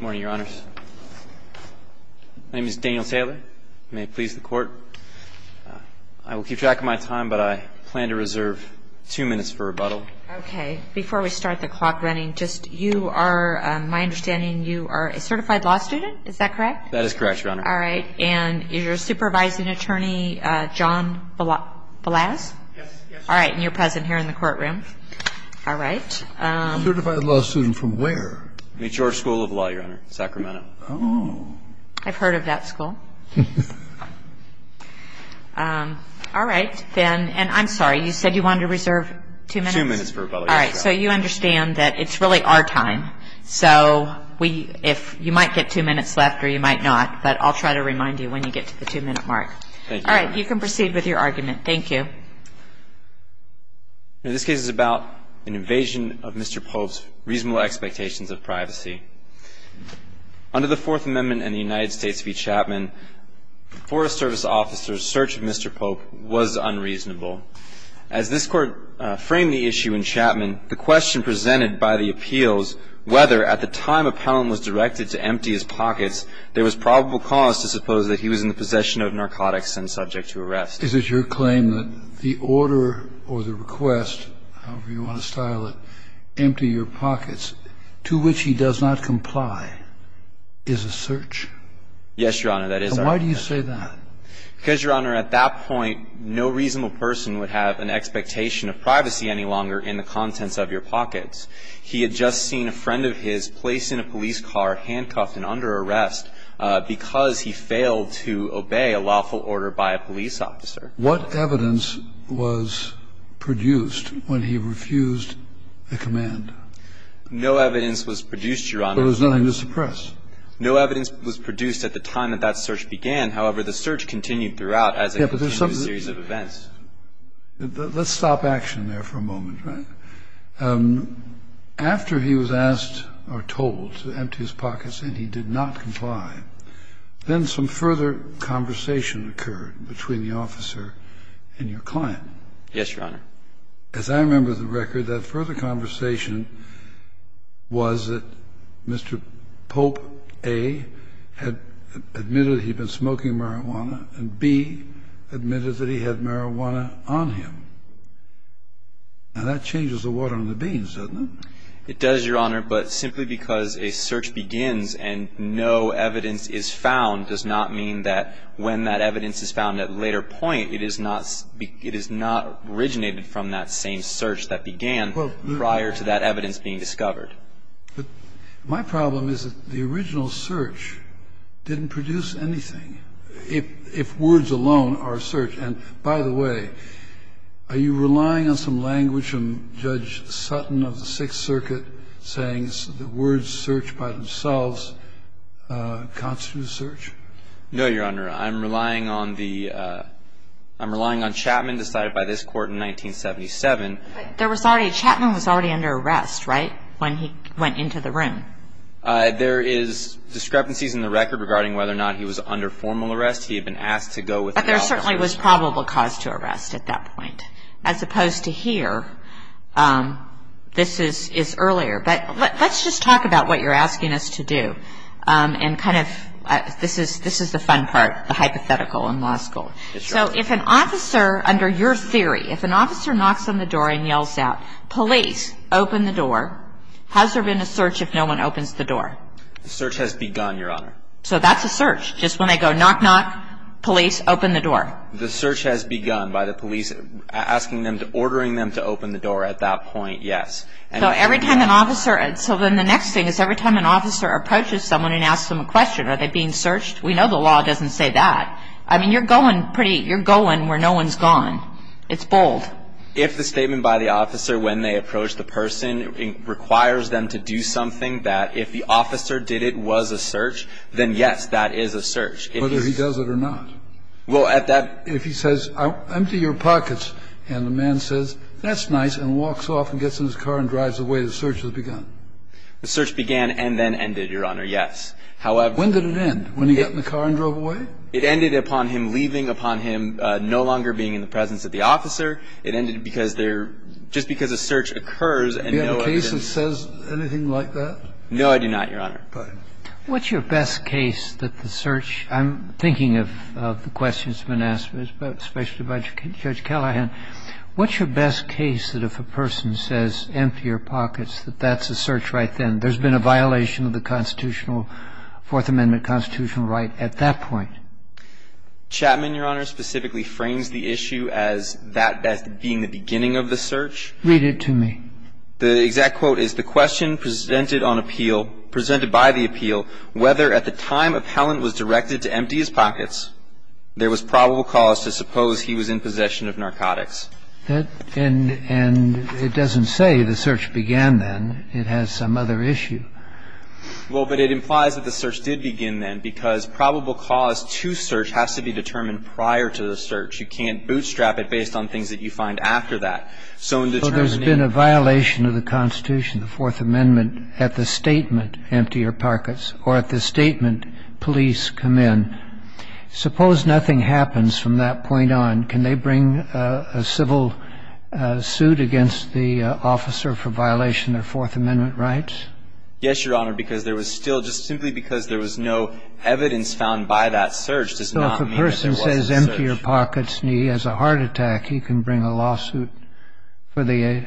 Morning, Your Honors. My name is Daniel Taylor. May it please the Court, I will keep track of my time, but I plan to reserve two minutes for rebuttal. Okay, before we start the clock running, just you are, my understanding, you are a certified law student, is that correct? That is correct, Your Honor. All right, and you're a supervising attorney, John Balazs? Yes. All right, and you're present here in the courtroom. All right. A certified law student from where? Mature School of Law, Your Honor, Sacramento. Oh. I've heard of that school. All right, then, and I'm sorry, you said you wanted to reserve two minutes? Two minutes for rebuttal, yes, Your Honor. All right, so you understand that it's really our time, so you might get two minutes left or you might not, but I'll try to remind you when you get to the two-minute mark. Thank you, Your Honor. All right, you can proceed with your argument. Thank you. Mr. Chapman, the first amendment of the United States v. Chapman is a case of appeal. In this case, it's about an invasion of Mr. Pope's reasonable expectations of privacy. Under the Fourth Amendment and the United States v. Chapman, the Forest Service officer's search of Mr. Pope was unreasonable. As this Court framed the issue in Chapman, the question presented by the appeals whether, at the time a penalty was directed to empty his pockets, there was probable cause to suppose that he was in the possession of narcotics and subject to arrest. Is it your claim that the order or the request, however you want to style it, empty your pockets, to which he does not comply, is a search? Yes, Your Honor, that is our claim. And why do you say that? Because, Your Honor, at that point, no reasonable person would have an expectation of privacy any longer in the contents of your pockets. He had just seen a friend of his placed in a police car, handcuffed and under arrest, because he failed to obey a lawful order by a police officer. What evidence was produced when he refused the command? No evidence was produced, Your Honor. But there was nothing to suppress. No evidence was produced at the time that that search began. However, the search continued throughout as a continuous series of events. Let's stop action there for a moment. After he was asked or told to empty his pockets and he did not comply, then some further conversation occurred between the officer and your client. Yes, Your Honor. As I remember the record, that further conversation was that Mr. Pope, A, had admitted that he had been smoking marijuana, and B, admitted that he had marijuana on him. Now, that changes the water on the beans, doesn't it? It does, Your Honor, but simply because a search begins and no evidence is found does not mean that when that evidence is found at a later point, it is not originated from that same search that began prior to that evidence being discovered. But my problem is that the original search didn't produce anything, if words alone are a search. And by the way, are you relying on some language from Judge Sutton of the Sixth Circuit saying that words searched by themselves constitute a search? No, Your Honor. I'm relying on the – I'm relying on Chapman decided by this Court in 1977. But there was already – Chapman was already under arrest, right, when he went into the room? There is discrepancies in the record regarding whether or not he was under formal arrest. He had been asked to go with the officer. But there certainly was probable cause to arrest at that point, as opposed to here. This is earlier. But let's just talk about what you're asking us to do and kind of – this is the fun part, the hypothetical in law school. Yes, Your Honor. So if an officer – under your theory, if an officer knocks on the door and yells out, police, open the door, has there been a search if no one opens the door? The search has begun, Your Honor. So that's a search, just when they go knock, knock, police, open the door? The search has begun by the police asking them to – ordering them to open the door at that point, yes. So every time an officer – so then the next thing is every time an officer approaches someone and asks them a question, are they being searched? We know the law doesn't say that. I mean, you're going pretty – you're going where no one's gone. It's bold. If the statement by the officer when they approach the person requires them to do something that if the officer did it, was a search, then yes, that is a search. Whether he does it or not. Well, at that – If he says, empty your pockets, and the man says, that's nice, and walks off and gets in his car and drives away, the search has begun. The search began and then ended, Your Honor, yes. However – When did it end? When he got in the car and drove away? It ended upon him leaving, upon him no longer being in the presence of the officer. It ended because they're – just because a search occurs and no other – Do you have a case that says anything like that? No, I do not, Your Honor. Pardon me. What's your best case that the search – I'm thinking of the questions that have been asked, especially by Judge Callahan. What's your best case that if a person says, empty your pockets, that that's a search right then? There's been a violation of the constitutional – Fourth Amendment constitutional right at that point. Chapman, Your Honor, specifically frames the issue as that being the beginning of the search. Read it to me. The exact quote is, the question presented on appeal – presented by the appeal, whether at the time appellant was directed to empty his pockets, there was probable cause to suppose he was in possession of narcotics. And it doesn't say the search began then. It has some other issue. Well, but it implies that the search did begin then, because probable cause to search has to be determined prior to the search. You can't bootstrap it based on things that you find after that. So in determining – So there's been a violation of the Constitution, the Fourth Amendment, at the statement empty your pockets, or at the statement police come in. Suppose nothing happens from that point on. Can they bring a civil suit against the officer for violation of Fourth Amendment rights? Yes, Your Honor, because there was still – just simply because there was no evidence found by that search does not mean that there was a search. So if a person says empty your pockets and he has a heart attack, he can bring a lawsuit for the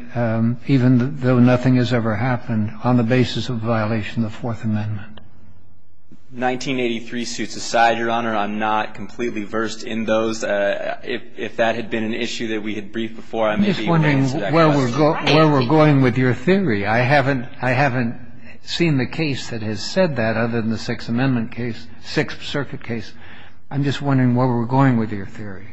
– even though nothing has ever happened on the basis of violation of the Fourth Amendment. Nineteen eighty-three suits aside, Your Honor, I'm not completely versed in those. If that had been an issue that we had briefed before, I may be able to answer that question. I'm just wondering where we're going with your theory. I haven't – I haven't seen the case that has said that other than the Sixth Amendment case – Sixth Circuit case. I'm just wondering where we're going with your theory.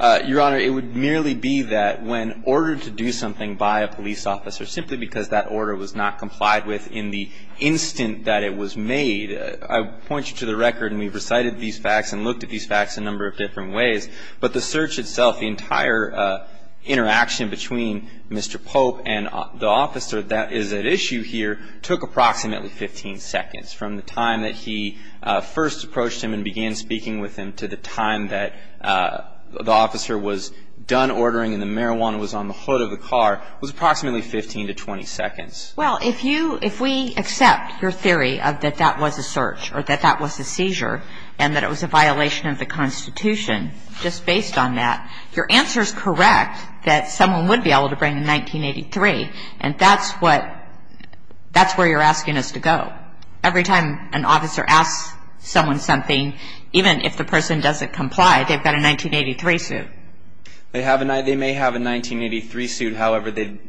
Your Honor, it would merely be that when ordered to do something by a police officer simply because that order was not complied with in the instant that it was made – I point you to the record and we've recited these facts and looked at these facts a number of different ways. But the search itself, the entire interaction between Mr. Pope and the officer that is at issue here took approximately 15 seconds from the time that he first approached him and began speaking with him to the time that the officer was done ordering and the marijuana was on the hood of the car was approximately 15 to 20 seconds. Well, if you – if we accept your theory that that was a search or that that was a just based on that, your answer is correct that someone would be able to bring a 1983 and that's what – that's where you're asking us to go. Every time an officer asks someone something, even if the person doesn't comply, they've got a 1983 suit. They have a – they may have a 1983 suit. However, they –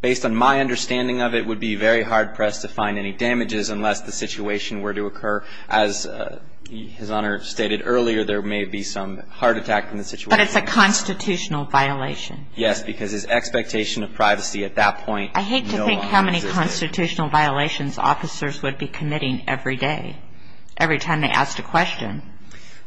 based on my understanding of it, would be very hard-pressed to find any damages unless the situation were to occur. As His Honor stated earlier, there may be some heart attack in the situation. But it's a constitutional violation. Yes, because his expectation of privacy at that point no longer exists. I hate to think how many constitutional violations officers would be committing every day, every time they asked a question.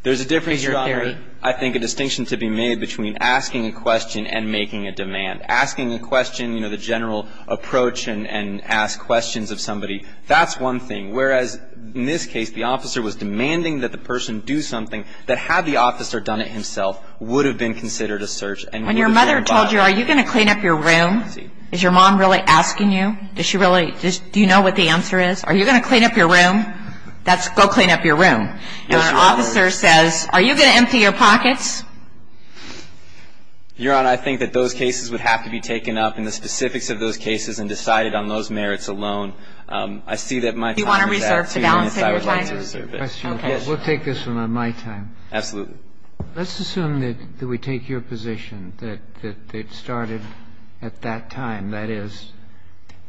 There's a difference, Your Honor, I think a distinction to be made between asking a question and making a demand. Asking a question, you know, the general approach and ask questions of somebody, that's one thing. Whereas, in this case, the officer was demanding that the person do something that had the officer done it himself would have been considered a search. When your mother told you, are you going to clean up your room? Is your mom really asking you? Does she really – do you know what the answer is? Are you going to clean up your room? That's go clean up your room. And when an officer says, are you going to empty your pockets? Your Honor, I think that those cases would have to be taken up in the specifics of those cases and decided on those merits alone. I see that my time is up. I would like to reserve it. Okay. We'll take this one on my time. Absolutely. Let's assume that we take your position, that it started at that time, that is.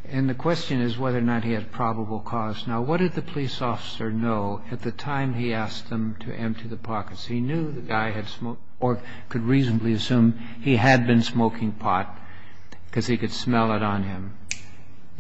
And the question is whether or not he had probable cause. Now, what did the police officer know at the time he asked him to empty the pockets? He knew the guy had smoked or could reasonably assume he had been smoking pot because he could smell it on him.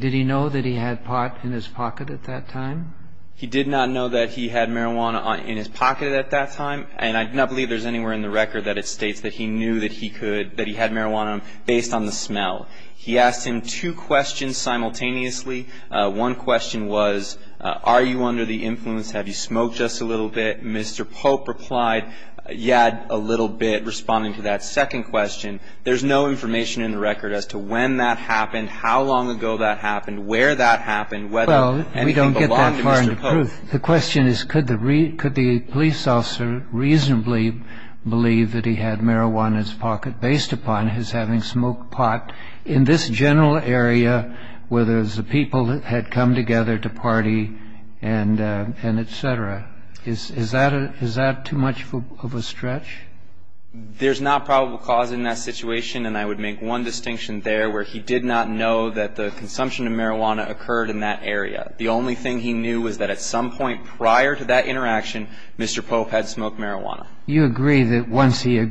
Did he know that he had pot in his pocket at that time? He did not know that he had marijuana in his pocket at that time, and I do not believe there's anywhere in the record that it states that he knew that he had marijuana on him based on the smell. He asked him two questions simultaneously. One question was, are you under the influence? Have you smoked just a little bit? Mr. Pope replied, yeah, a little bit, responding to that second question. There's no information in the record as to when that happened, how long ago that happened, where that happened, whether anything belonged to Mr. Pope. Well, we don't get that far into proof. The question is, could the police officer reasonably believe that he had marijuana in his pocket based upon his having smoked pot in this general area where there's a people that had come together to party and et cetera? Is that too much of a stretch? There's not probable cause in that situation, and I would make one distinction there where he did not know that the consumption of marijuana occurred in that area. The only thing he knew was that at some point prior to that interaction, Mr. Pope had smoked marijuana. You agree that once he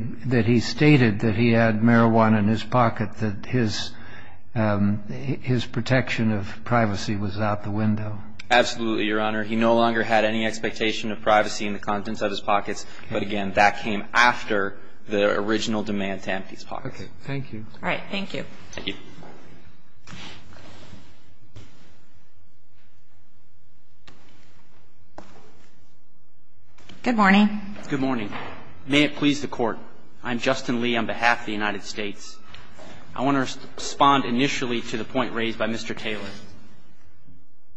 stated that he had marijuana in his pocket, that his protection of privacy was out the window? Absolutely, Your Honor. He no longer had any expectation of privacy in the contents of his pockets, but again, that came after the original demand to empty his pocket. Okay. Thank you. All right. Thank you. Thank you. Good morning. Good morning. May it please the Court, I'm Justin Lee on behalf of the United States. I want to respond initially to the point raised by Mr. Taylor.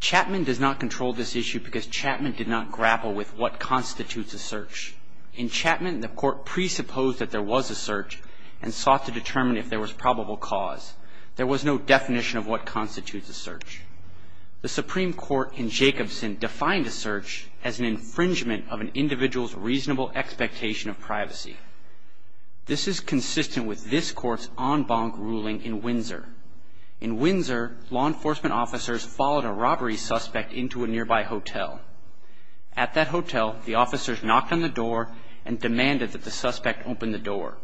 Chapman does not control this issue because Chapman did not grapple with what constitutes a search. In Chapman, the Court presupposed that there was a search and sought to determine if there was probable cause. There was no definition of what constitutes a search. The Supreme Court in Jacobson defined a search as an infringement of an individual's reasonable expectation of privacy. This is consistent with this Court's en banc ruling in Windsor. In Windsor, law enforcement officers followed a robbery suspect into a nearby hotel. At that hotel, the officers knocked on the door and demanded that the suspect open the door.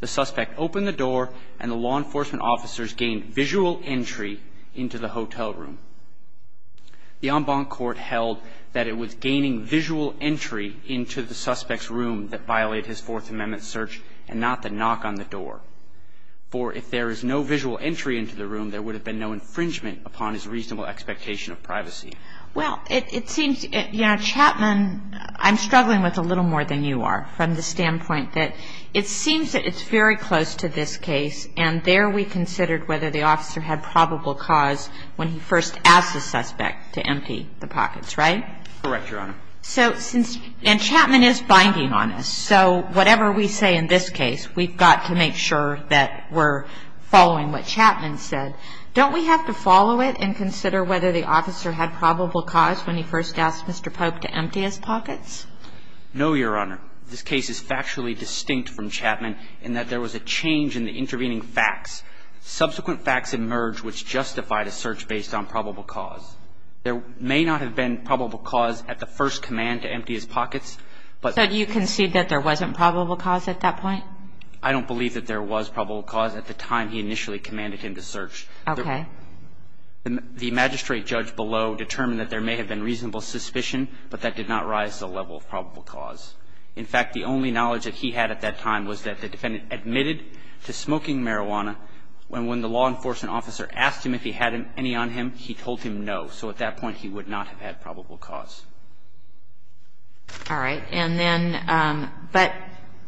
The suspect opened the door, and the law enforcement officers gained visual entry into the hotel room. The en banc court held that it was gaining visual entry into the suspect's room that violated his Fourth Amendment search and not the knock on the door. For if there is no visual entry into the room, there would have been no infringement upon his reasonable expectation of privacy. Well, it seems, you know, Chapman, I'm struggling with a little more than you are from the standpoint that it seems that it's very close to this case, and there we considered whether the officer had probable cause when he first asked the suspect to empty the pockets, right? Correct, Your Honor. So since, and Chapman is binding on this, so whatever we say in this case, we've got to make sure that we're following what Chapman said. Don't we have to follow it and consider whether the officer had probable cause when he first asked Mr. Polk to empty his pockets? No, Your Honor. This case is factually distinct from Chapman in that there was a change in the intervening facts. Subsequent facts emerged which justified a search based on probable cause. There may not have been probable cause at the first command to empty his pockets, but So you concede that there wasn't probable cause at that point? I don't believe that there was probable cause at the time he initially commanded him to search. Okay. The magistrate judge below determined that there may have been reasonable suspicion, but that did not rise to the level of probable cause. In fact, the only knowledge that he had at that time was that the defendant admitted to smoking marijuana, and when the law enforcement officer asked him if he had any on him, he told him no. So at that point, he would not have had probable cause. All right. And then, but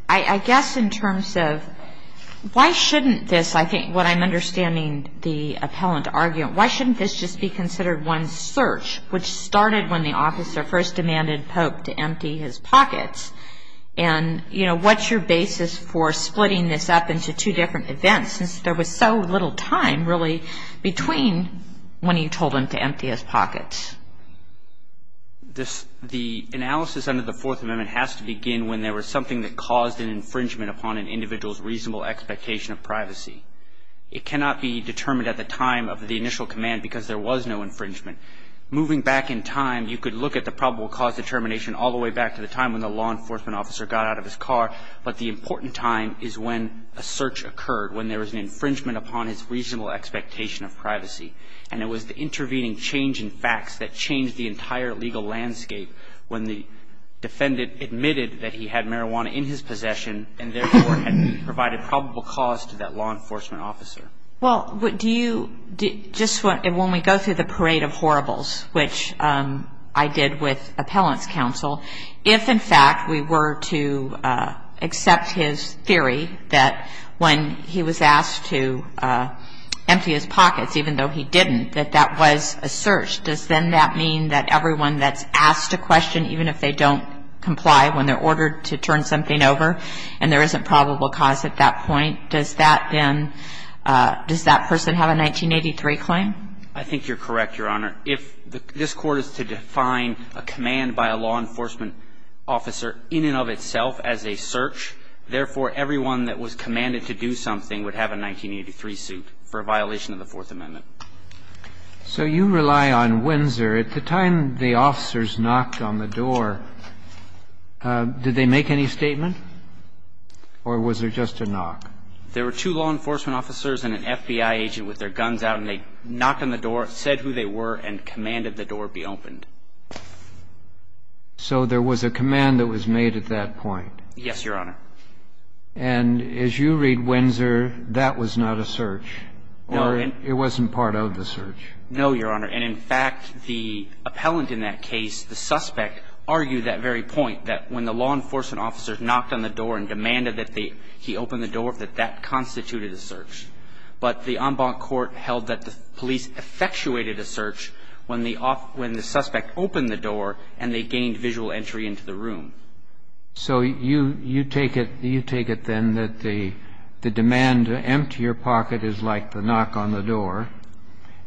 I guess in terms of why shouldn't this, I think, what I'm understanding the appellant arguing, why shouldn't this just be considered one search which started when the officer first demanded Polk to empty his pockets? And, you know, what's your basis for splitting this up into two different events since there was so little time, really, between when you told him to empty his pockets? The analysis under the Fourth Amendment has to begin when there was something that caused an infringement upon an individual's reasonable expectation of privacy. It cannot be determined at the time of the initial command because there was no infringement. Moving back in time, you could look at the probable cause determination all the way back to the time when the law enforcement officer got out of his car, but the important time is when a search occurred, when there was an infringement upon his reasonable expectation of privacy. And it was the intervening change in facts that changed the entire legal landscape when the defendant admitted that he had marijuana in his possession and therefore had provided probable cause to that law enforcement officer. Well, do you, just when we go through the parade of horribles, which I did with appellant's counsel, if, in fact, we were to accept his theory that when he was asked to empty his pockets, even though he didn't, that that was a search, does then that mean that everyone that's asked a question, even if they don't comply when they're ordered to turn something over and there isn't probable cause at that point, does that then, does that person have a 1983 claim? I think you're correct, Your Honor. If this Court is to define a command by a law enforcement officer in and of itself as a search, therefore, everyone that was commanded to do something would have a 1983 suit for a violation of the Fourth Amendment. So you rely on Windsor. At the time the officers knocked on the door, did they make any statement or was there just a knock? There were two law enforcement officers and an FBI agent with their guns out, and they knocked on the door, said who they were, and commanded the door be opened. So there was a command that was made at that point? Yes, Your Honor. And as you read Windsor, that was not a search or it wasn't part of the search? No, Your Honor. And, in fact, the appellant in that case, the suspect, argued that very point, that when the law enforcement officer knocked on the door and demanded that he open the door, that that constituted a search. But the en banc court held that the police effectuated a search when the suspect opened the door and they gained visual entry into the room. So you take it, then, that the demand to empty your pocket is like the knock on the door,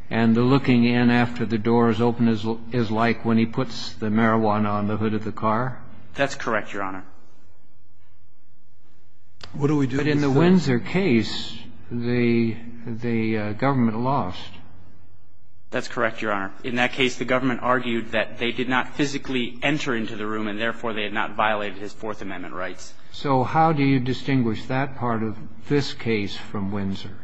and the looking in after the door is open is like when he puts the marijuana on the hood of the car? That's correct, Your Honor. But in the Windsor case, the government lost? That's correct, Your Honor. In that case, the government argued that they did not physically enter into the room, and, therefore, they had not violated his Fourth Amendment rights. So how do you distinguish that part of this case from Windsor?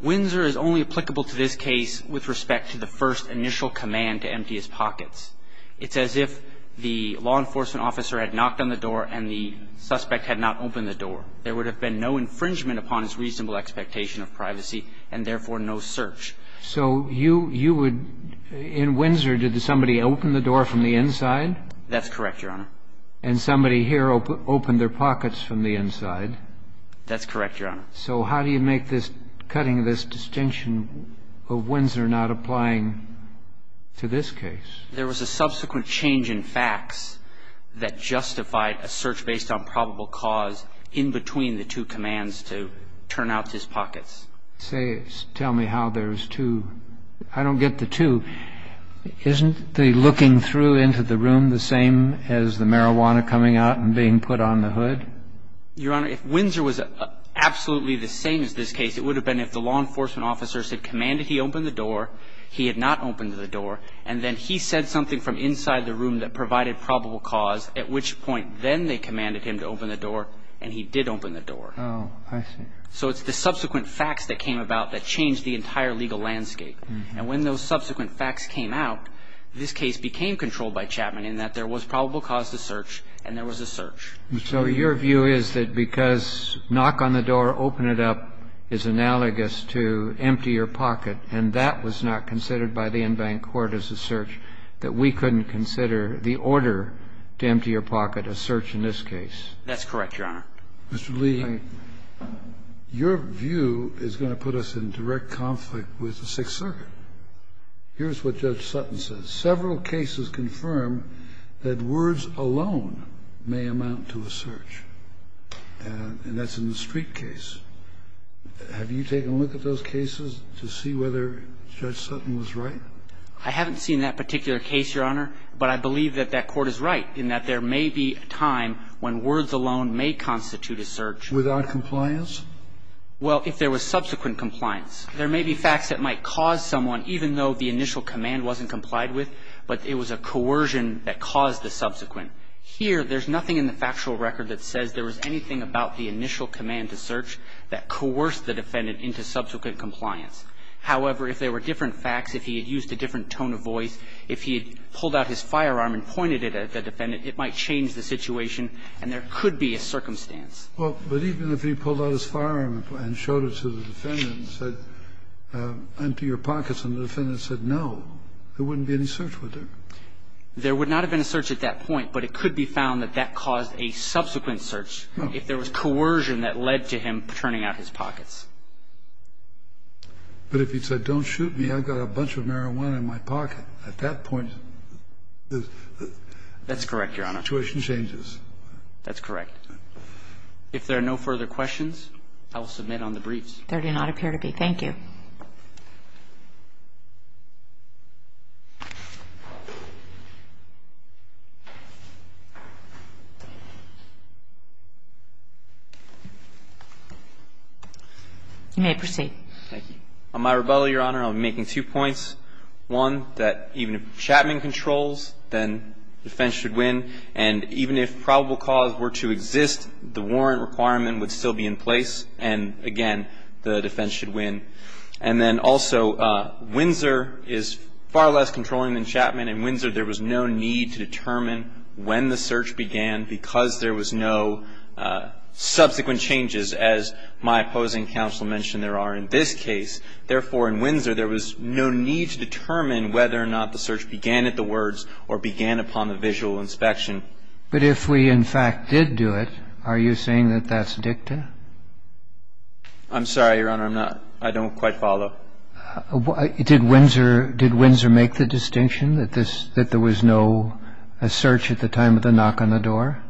Windsor is only applicable to this case with respect to the first initial command to empty his pockets. It's as if the law enforcement officer had knocked on the door, and the suspect had not opened the door. There would have been no infringement upon his reasonable expectation of privacy, and, therefore, no search. So you would – in Windsor, did somebody open the door from the inside? That's correct, Your Honor. And somebody here opened their pockets from the inside? That's correct, Your Honor. So how do you make this – cutting this distinction of Windsor not applying to this case? There was a subsequent change in facts that justified a search based on probable cause in between the two commands to turn out his pockets. Tell me how there's two – I don't get the two. Isn't the looking through into the room the same as the marijuana coming out and being put on the hood? Your Honor, if Windsor was absolutely the same as this case, it would have been if the law enforcement officer said, So it's the subsequent facts that came about that changed the entire legal landscape. And when those subsequent facts came out, this case became controlled by Chapman in that there was probable cause to search and there was a search. So your view is that because knock on the door, open it up, and there was a search, and that was not considered by the en banc court as a search, that we couldn't consider the order to empty your pocket a search in this case? That's correct, Your Honor. Mr. Lee, your view is going to put us in direct conflict with the Sixth Circuit. Here's what Judge Sutton says. Several cases confirm that words alone may amount to a search. And that's in the Street case. Have you taken a look at those cases to see whether Judge Sutton was right? I haven't seen that particular case, Your Honor. But I believe that that court is right in that there may be a time when words alone may constitute a search. Without compliance? Well, if there was subsequent compliance. There may be facts that might cause someone, even though the initial command wasn't complied with, but it was a coercion that caused the subsequent. Here, there's nothing in the factual record that says there was anything about the that coerced the defendant into subsequent compliance. However, if there were different facts, if he had used a different tone of voice, if he had pulled out his firearm and pointed it at the defendant, it might change the situation, and there could be a circumstance. Well, but even if he pulled out his firearm and showed it to the defendant and said, empty your pockets, and the defendant said no, there wouldn't be any search, would there? There would not have been a search at that point, but it could be found that that caused a subsequent search. No. There was coercion that led to him turning out his pockets. But if he said, don't shoot me, I've got a bunch of marijuana in my pocket, at that point, the situation changes. That's correct, Your Honor. That's correct. If there are no further questions, I will submit on the briefs. There do not appear to be. Thank you. You may proceed. Thank you. On my rebuttal, Your Honor, I'm making two points. One, that even if Chapman controls, then defense should win. And even if probable cause were to exist, the warrant requirement would still be in place, and, again, the defense should win. And then also, Windsor is far less controlling than Chapman. In Windsor, there was no need to determine when the search began because there was no subsequent changes, as my opposing counsel mentioned there are in this case. Therefore, in Windsor, there was no need to determine whether or not the search began at the words or began upon the visual inspection. But if we, in fact, did do it, are you saying that that's dicta? I'm sorry, Your Honor. I don't quite follow. Did Windsor make the distinction that there was no search at the time of the knock on the door?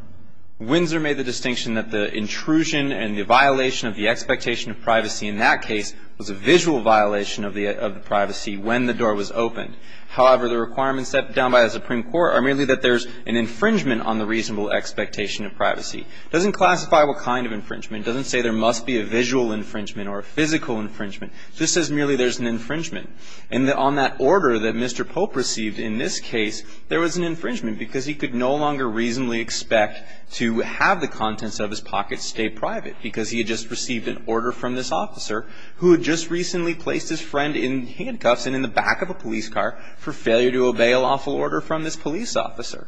Windsor made the distinction that the intrusion and the violation of the expectation of privacy in that case was a visual violation of the privacy when the door was opened. However, the requirements set down by the Supreme Court are merely that there's an infringement on the reasonable expectation of privacy. It doesn't classify what kind of infringement. It doesn't say there must be a visual infringement or a physical infringement. It just says merely there's an infringement. And on that order that Mr. Pope received in this case, there was an infringement because he could no longer reasonably expect to have the contents of his pocket stay private because he had just received an order from this officer who had just recently placed his friend in handcuffs and in the back of a police car for failure to obey a lawful order from this police officer.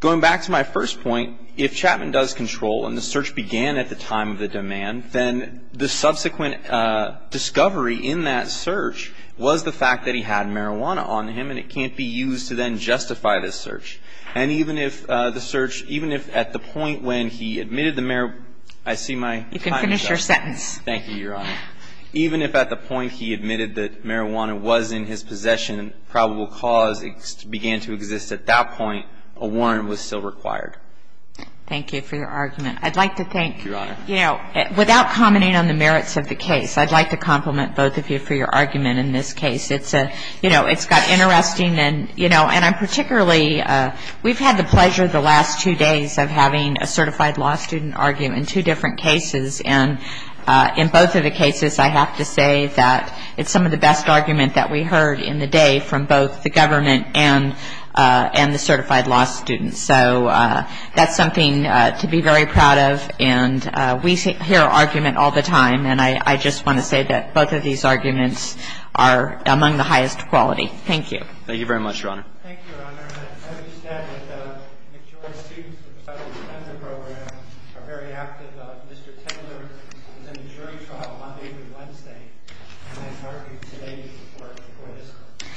Going back to my first point, if Chapman does control and the search began at the time of the demand, then the subsequent discovery in that search was the fact that he had marijuana on him and it can't be used to then justify the search. And even if the search, even if at the point when he admitted the marijuana I see my time is up. You can finish your sentence. Thank you, Your Honor. Even if at the point he admitted that marijuana was in his possession and probable cause began to exist at that point, a warrant was still required. Thank you for your argument. I'd like to thank, you know, without commenting on the merits of the case, I'd like to compliment both of you for your argument in this case. It's a, you know, it's got interesting and, you know, and I'm particularly, we've had the pleasure the last two days of having a certified law student argue in two different cases. And in both of the cases I have to say that it's some of the best argument that we heard in the day from both the government and the certified law students. So that's something to be very proud of. And we hear argument all the time. And I just want to say that both of these arguments are among the highest quality. Thank you. Thank you very much, Your Honor. Thank you, Your Honor. I understand that the majority of students in the Federal Defender Program are very active. Mr. Taylor was in a jury trial Monday through Wednesday. And I'd like you today to support him for this.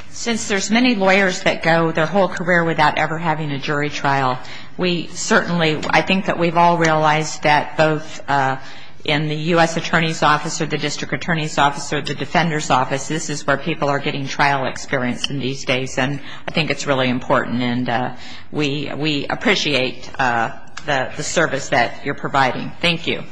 Since there's many lawyers that go their whole career without ever having a jury trial, we certainly, I think that we've all realized that both in the U.S. Attorney's Office or the District Attorney's Office or the Defender's Office, this is where people are getting trial experience these days. And I think it's really important. And we appreciate the service that you're providing. Thank you.